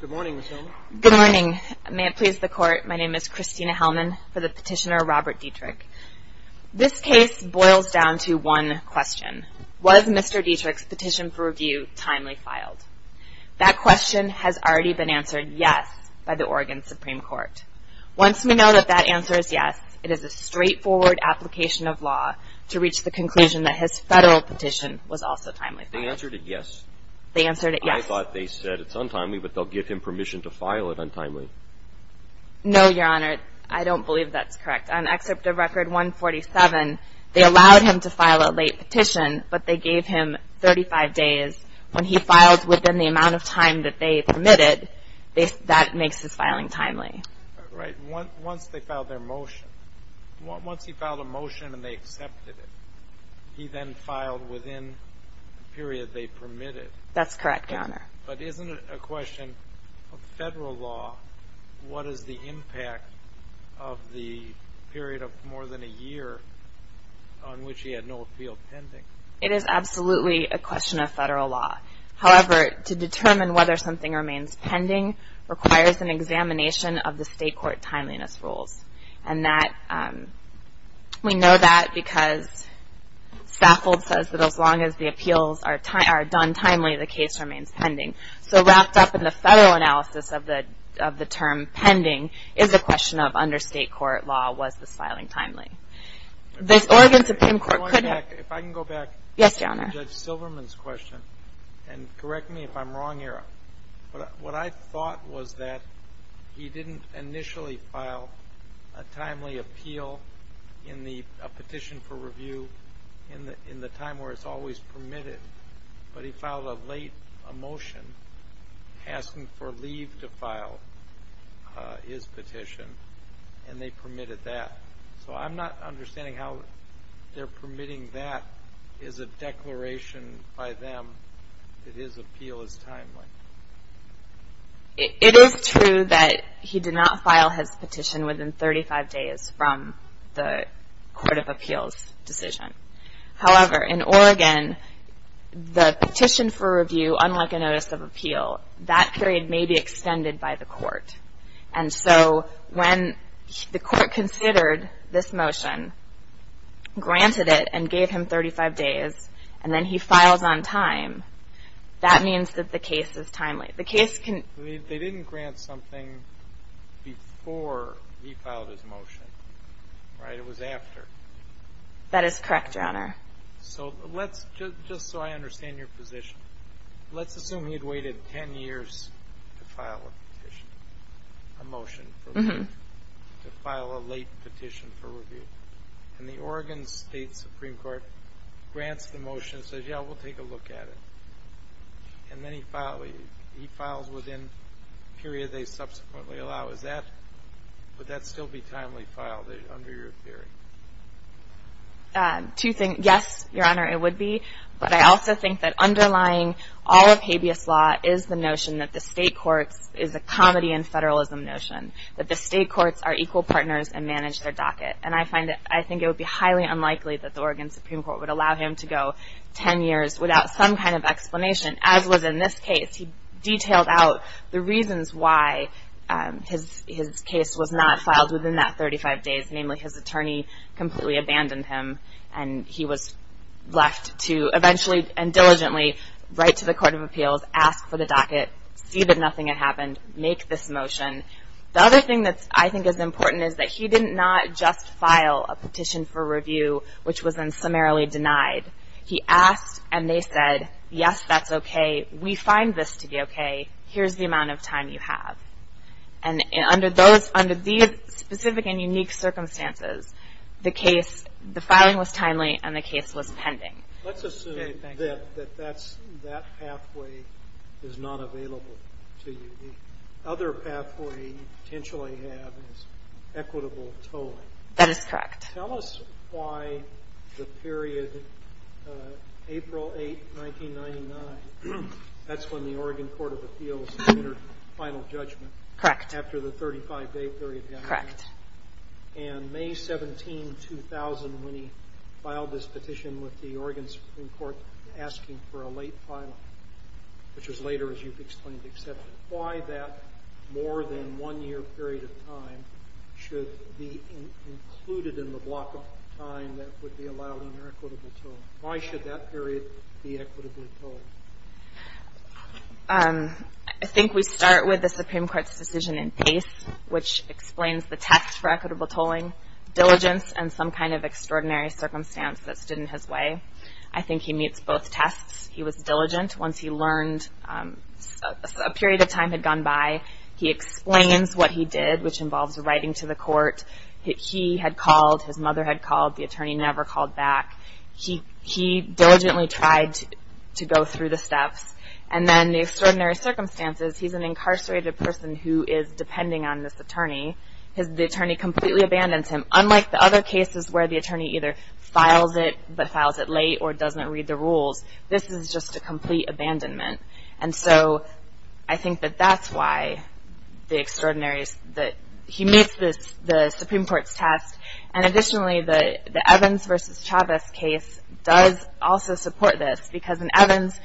Good morning, Ms. Helman. Good morning. May it please the Court, my name is Christina Helman for the petitioner Robert Dietrich. This case boils down to one question. Was Mr. Dietrich's petition for review timely filed? That question has already been answered yes by the Oregon Supreme Court. Once we know that that answer is yes, it is a straightforward application of law to reach the conclusion that his federal petition was also timely filed. They answered it yes. They answered it yes. I thought they said it's untimely, but they'll give him permission to file it untimely. No, Your Honor, I don't believe that's correct. On Excerpt of Record 147, they allowed him to file a late petition, but they gave him 35 days. When he filed within the amount of time that they permitted, that makes his filing timely. Right. Once they filed their motion, once he filed a motion and they accepted it, he then filed within the period they permitted. That's correct, Your Honor. But isn't it a question of federal law? What is the impact of the period of more than a year on which he had no appeal pending? It is absolutely a question of federal law. However, to determine whether something remains pending requires an examination of the state court timeliness rules. And we know that because Stafford says that as long as the appeals are done timely, the case remains pending. So wrapped up in the federal analysis of the term pending is a question of, under state court law, was this filing timely? If I can go back to Judge Silverman's question and correct me if I'm wrong here. What I thought was that he didn't initially file a timely appeal in the petition for review in the time where it's always permitted. But he filed a late motion asking for leave to file his petition, and they permitted that. So I'm not understanding how their permitting that is a declaration by them that his appeal is timely. It is true that he did not file his petition within 35 days from the court of appeals decision. However, in Oregon, the petition for review, unlike a notice of appeal, that period may be extended by the court. And so when the court considered this motion, granted it, and gave him 35 days, and then he files on time, that means that the case is timely. They didn't grant something before he filed his motion, right? It was after. That is correct, Your Honor. So just so I understand your position, let's assume he had waited 10 years to file a petition, a motion for leave, to file a late petition for review. And the Oregon State Supreme Court grants the motion and says, yeah, we'll take a look at it. And then he files within the period they subsequently allow. Would that still be timely file under your theory? Yes, Your Honor, it would be. But I also think that underlying all of habeas law is the notion that the state courts is a comedy and federalism notion, that the state courts are equal partners and manage their docket. And I think it would be highly unlikely that the Oregon Supreme Court would allow him to go 10 years without some kind of explanation, as was in this case. He detailed out the reasons why his case was not filed within that 35 days, namely his attorney completely abandoned him, and he was left to eventually and diligently write to the Court of Appeals, ask for the docket, see that nothing had happened, make this motion. The other thing that I think is important is that he did not just file a petition for review, which was then summarily denied. He asked and they said, yes, that's okay. We find this to be okay. Here's the amount of time you have. And under these specific and unique circumstances, the filing was timely and the case was pending. Let's assume that that pathway is not available to you. The other pathway you potentially have is equitable tolling. That is correct. Tell us why the period April 8, 1999, that's when the Oregon Court of Appeals made their final judgment after the 35-day period had ended. Correct. And May 17, 2000, when he filed this petition with the Oregon Supreme Court asking for a late filing, which was later, as you've explained, accepted. Why that more than one-year period of time should be included in the block of time that would be allowed in your equitable tolling? Why should that period be equitably tolled? I think we start with the Supreme Court's decision in pace, which explains the test for equitable tolling, diligence, and some kind of extraordinary circumstance that stood in his way. I think he meets both tests. He was diligent. Once he learned a period of time had gone by, he explains what he did, which involves writing to the court. He had called. His mother had called. The attorney never called back. He diligently tried to go through the steps. And then the extraordinary circumstances, he's an incarcerated person who is depending on this attorney. The attorney completely abandons him, unlike the other cases where the attorney either files it but files it late or doesn't read the rules. This is just a complete abandonment. And so I think that that's why he meets the Supreme Court's test. And additionally, the Evans v. Chavez case does also support this because in Evans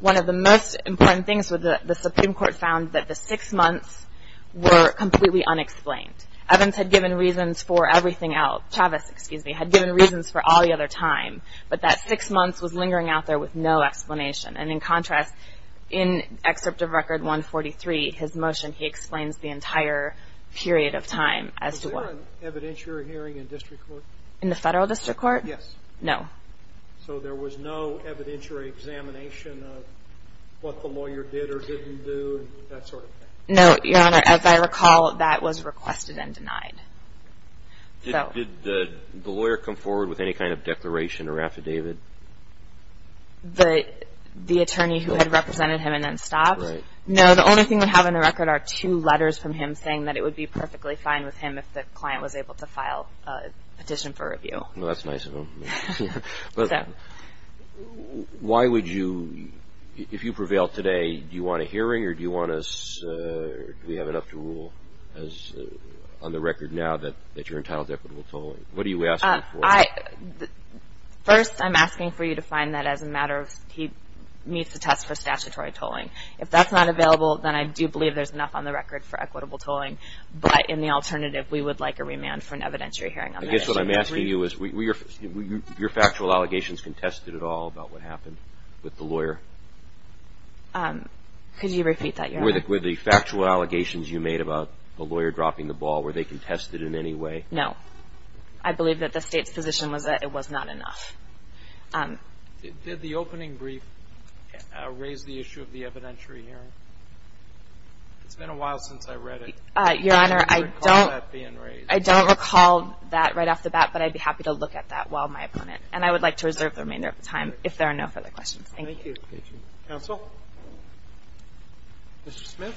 one of the most important things the Supreme Court found was that the six months were completely unexplained. Evans had given reasons for everything else. Chavez, excuse me, had given reasons for all the other time. But that six months was lingering out there with no explanation. And in contrast, in Excerpt of Record 143, his motion, he explains the entire period of time as to what. Was there an evidentiary hearing in district court? In the federal district court? Yes. No. So there was no evidentiary examination of what the lawyer did or didn't do, that sort of thing? No, Your Honor. As I recall, that was requested and denied. Did the lawyer come forward with any kind of declaration or affidavit? The attorney who had represented him and then stopped? Right. No, the only thing we have in the record are two letters from him saying that it would be perfectly fine with him if the client was able to file a petition for review. Well, that's nice of him. Do we have enough to rule on the record now that you're entitled to equitable tolling? What are you asking for? First, I'm asking for you to find that as a matter of he meets the test for statutory tolling. If that's not available, then I do believe there's enough on the record for equitable tolling. But in the alternative, we would like a remand for an evidentiary hearing. I guess what I'm asking you is, were your factual allegations contested at all about what happened with the lawyer? Could you repeat that, Your Honor? Were the factual allegations you made about the lawyer dropping the ball, were they contested in any way? No. I believe that the State's position was that it was not enough. Did the opening brief raise the issue of the evidentiary hearing? It's been a while since I read it. Your Honor, I don't recall that right off the bat, but I'd be happy to look at that while my opponent, and I would like to reserve the remainder of the time if there are no further questions. Thank you. Thank you. Counsel? Mr. Smith?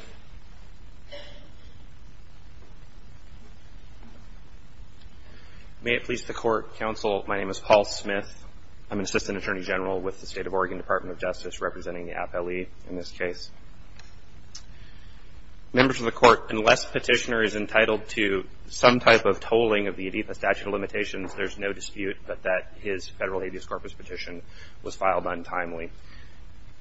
May it please the Court, Counsel, my name is Paul Smith. I'm an Assistant Attorney General with the State of Oregon Department of Justice representing the appellee in this case. Members of the Court, unless Petitioner is entitled to some type of tolling of the ADEPA statute of limitations, there's no dispute that his federal habeas corpus petition was filed untimely.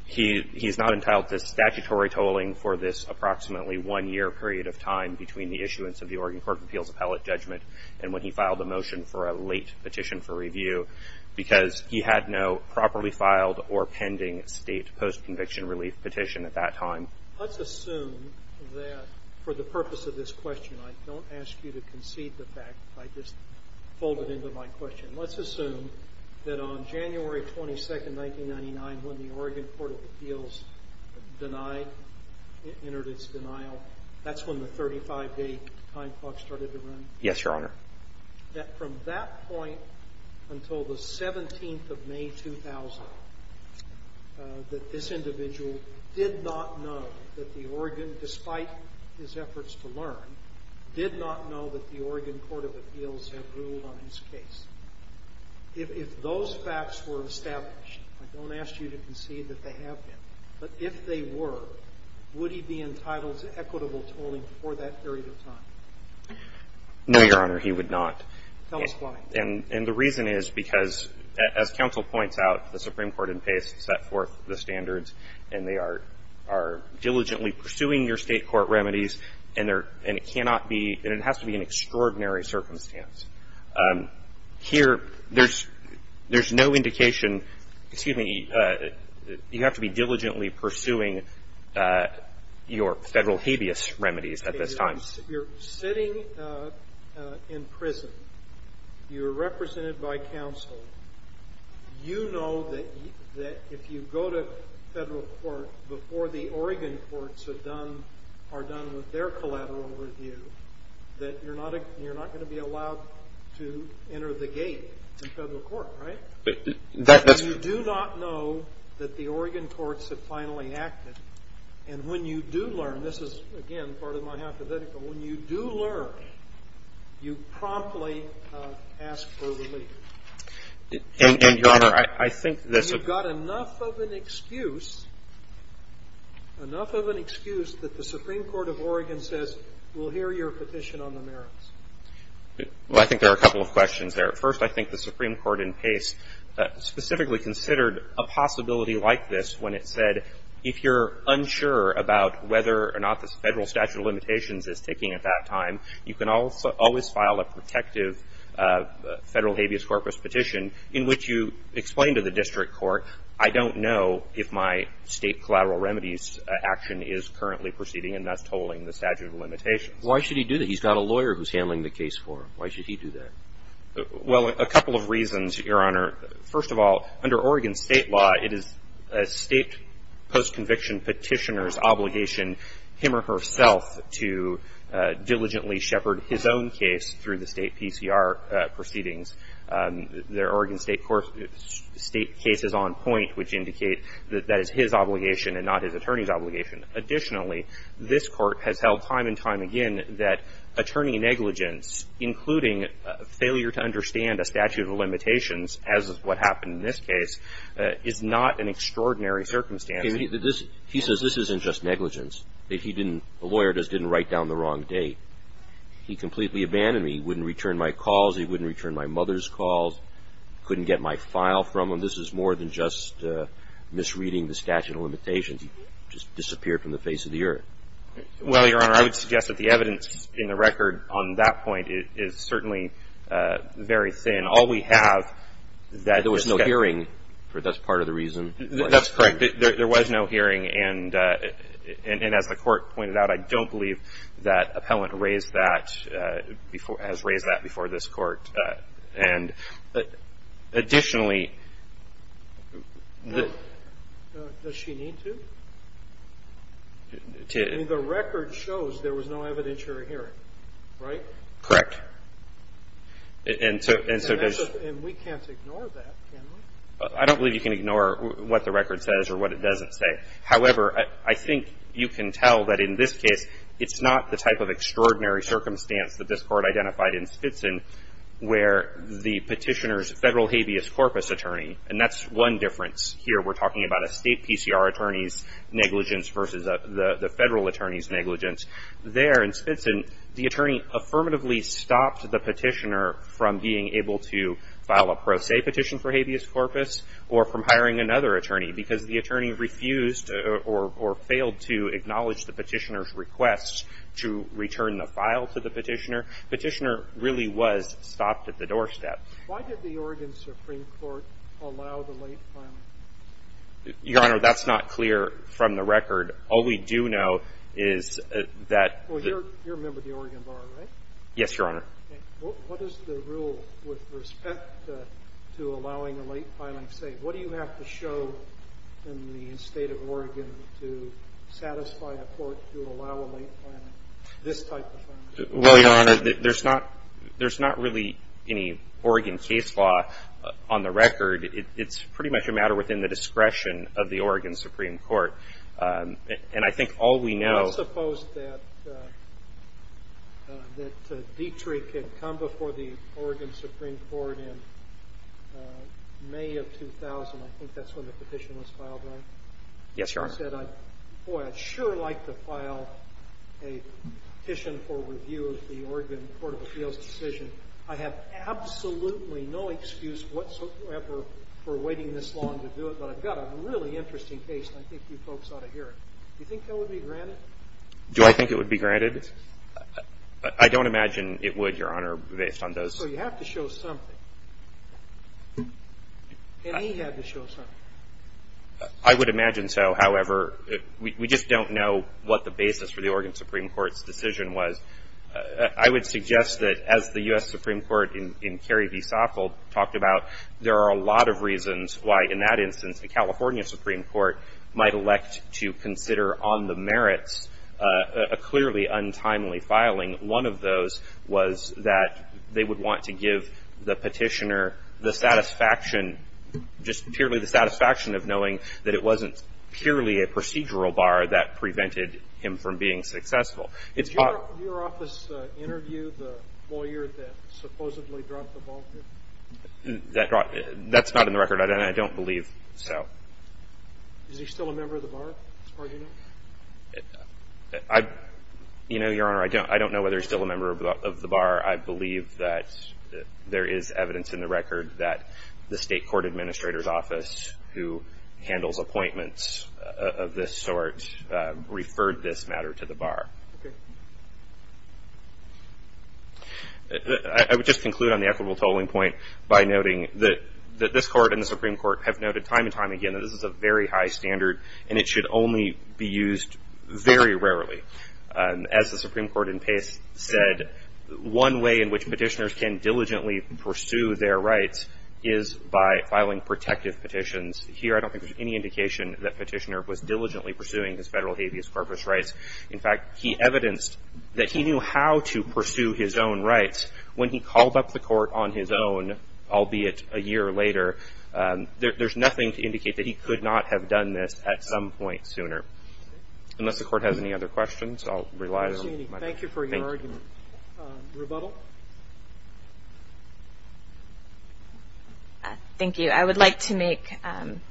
He's not entitled to statutory tolling for this approximately one-year period of time between the issuance of the Oregon Court of Appeals Appellate Judgment and when he filed the motion for a late petition for review because he had no properly filed or pending state post-conviction relief petition at that time. Let's assume that for the purpose of this question, I don't ask you to concede the fact that I just folded into my question. Let's assume that on January 22, 1999, when the Oregon Court of Appeals denied, entered its denial, that's when the 35-day time clock started to run? Yes, Your Honor. That from that point until the 17th of May, 2000, that this individual did not know that the Oregon, despite his efforts to learn, did not know that the Oregon Court of Appeals had ruled on his case. If those facts were established, I don't ask you to concede that they have been, but if they were, would he be entitled to equitable tolling for that period of time? No, Your Honor, he would not. Tell us why. And the reason is because, as counsel points out, the Supreme Court in Pace set forth the standards and they are diligently pursuing your state court remedies and it has to be an extraordinary circumstance. Here, there's no indication, excuse me, you have to be diligently pursuing your federal habeas remedies at this time. You're sitting in prison. You're represented by counsel. You know that if you go to federal court before the Oregon courts are done with their collateral review, that you're not going to be allowed to enter the gate to federal court, right? But you do not know that the Oregon courts have finally acted and when you do learn, this is, again, part of my hypothetical, when you do learn, you promptly ask for relief. And, Your Honor, I think that's a... Well, I think there are a couple of questions there. First, I think the Supreme Court in Pace specifically considered a possibility like this when it said, if you're unsure about whether or not the federal statute of limitations is taking at that time, you can always file a protective federal habeas corpus petition in which you explain to the district court, I don't know if my state collateral remedies action is currently proceeding and that's tolling the statute of limitations. Why should he do that? He's got a lawyer who's handling the case for him. Why should he do that? Well, a couple of reasons, Your Honor. First of all, under Oregon state law, it is a state post-conviction petitioner's obligation, him or herself, to diligently shepherd his own case through the state PCR proceedings. There are Oregon state cases on point which indicate that that is his obligation and not his attorney's obligation. Additionally, this Court has held time and time again that attorney negligence, including failure to understand a statute of limitations, as is what happened in this case, is not an extraordinary circumstance. He says this isn't just negligence, that he didn't, the lawyer just didn't write down the wrong date. He completely abandoned me. He wouldn't return my calls. He wouldn't return my mother's calls. Couldn't get my file from him. This is more than just misreading the statute of limitations. He just disappeared from the face of the earth. Well, Your Honor, I would suggest that the evidence in the record on that point is certainly very thin. All we have is that there was no hearing. That's part of the reason. That's correct. There was no hearing, and as the Court pointed out, I don't believe that appellant raised that before, has raised that before this Court. And additionally, the. Does she need to? I mean, the record shows there was no evidentiary hearing, right? Correct. And so there's. And we can't ignore that, can we? I don't believe you can ignore what the record says or what it doesn't say. However, I think you can tell that in this case, it's not the type of extraordinary circumstance that this Court identified in Spitzen, where the petitioner's federal habeas corpus attorney, and that's one difference here. We're talking about a state PCR attorney's negligence versus the federal attorney's negligence. There in Spitzen, the attorney affirmatively stopped the petitioner from being able to file a pro se petition for habeas corpus or from hiring another attorney because the attorney refused or failed to acknowledge the petitioner's request to return the file to the petitioner. The petitioner really was stopped at the doorstep. Why did the Oregon Supreme Court allow the late filing? Your Honor, that's not clear from the record. All we do know is that. Well, you're a member of the Oregon Bar, right? Yes, Your Honor. What does the rule with respect to allowing a late filing say? What do you have to show in the state of Oregon to satisfy a court to allow a late filing, this type of thing? Well, Your Honor, there's not really any Oregon case law on the record. It's pretty much a matter within the discretion of the Oregon Supreme Court. And I think all we know. I suppose that Dietrich had come before the Oregon Supreme Court in May of 2000. I think that's when the petition was filed, right? Yes, Your Honor. He said, boy, I'd sure like to file a petition for review of the Oregon Court of Appeals decision. I have absolutely no excuse whatsoever for waiting this long to do it, but I've got a really interesting case, and I think you folks ought to hear it. Do you think that would be granted? Do I think it would be granted? I don't imagine it would, Your Honor, based on those. So you have to show something. And he had to show something. I would imagine so. However, we just don't know what the basis for the Oregon Supreme Court's decision was. I would suggest that as the U.S. Supreme Court in Kerry v. Sacco talked about, there are a lot of reasons why, in that instance, the California Supreme Court might elect to consider on the merits a clearly untimely filing. One of those was that they would want to give the petitioner the satisfaction, just purely the satisfaction of knowing that it wasn't purely a procedural bar that prevented him from being successful. Did your office interview the lawyer that supposedly dropped the ball here? That's not in the record, and I don't believe so. Is he still a member of the bar, as far as you know? You know, Your Honor, I don't know whether he's still a member of the bar. I believe that there is evidence in the record that the State Court Administrator's Office, who handles appointments of this sort, referred this matter to the bar. Okay. I would just conclude on the equitable tolling point by noting that this Court and the Supreme Court have noted time and time again that this is a very high standard, and it should only be used very rarely. As the Supreme Court in Pace said, one way in which petitioners can diligently pursue their rights is by filing protective petitions. Here I don't think there's any indication that Petitioner was diligently pursuing his Federal habeas corpus rights. In fact, he evidenced that he knew how to pursue his own rights. When he called up the Court on his own, albeit a year later, there's nothing to indicate that he could not have done this at some point sooner. Unless the Court has any other questions, I'll rely on my time. Thank you for your argument. Rebuttal? Thank you. I would like to make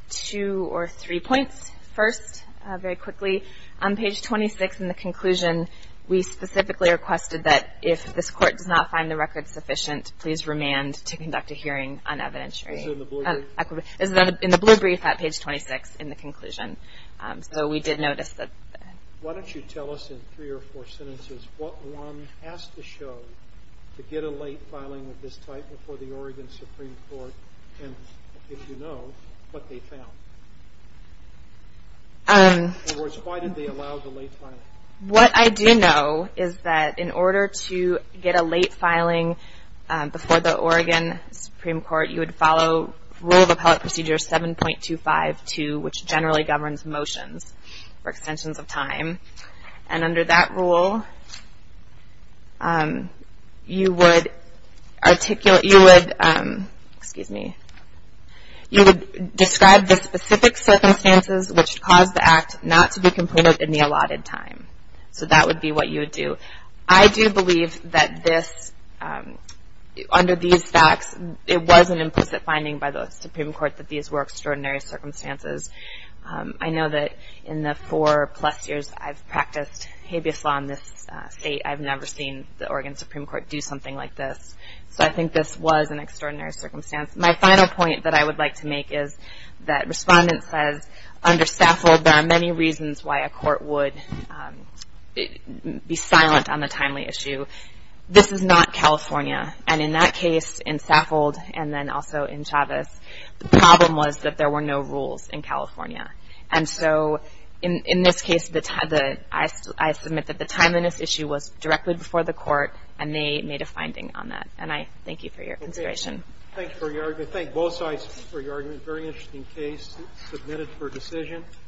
two or three points. First, very quickly, on page 26 in the conclusion, we specifically requested that if this Court does not find the record sufficient, please remand to conduct a hearing on evidentiary. Is it in the blue brief? In the blue brief at page 26 in the conclusion. So we did notice that. Why don't you tell us in three or four sentences what one has to show to get a late filing of this type before the Oregon Supreme Court and, if you know, what they found? In other words, why did they allow the late filing? What I do know is that in order to get a late filing before the Oregon Supreme Court, you would follow Rule of Appellate Procedure 7.252, which generally governs motions for extensions of time. And under that rule, you would articulate, you would, excuse me, you would describe the specific circumstances which caused the act not to be completed in the allotted time. So that would be what you would do. I do believe that this, under these facts, it was an implicit finding by the Supreme Court that these were extraordinary circumstances. I know that in the four-plus years I've practiced habeas law in this state, I've never seen the Oregon Supreme Court do something like this. So I think this was an extraordinary circumstance. My final point that I would like to make is that Respondent says, under Saffold, there are many reasons why a court would be silent on the timely issue. This is not California. And in that case, in Saffold and then also in Chavez, the problem was that there were no rules in California. And so in this case, I submit that the timeliness issue was directly before the court, and they made a finding on that. And I thank you for your consideration. Thank you for your argument. Thank both sides for your argument. Very interesting case submitted for decision.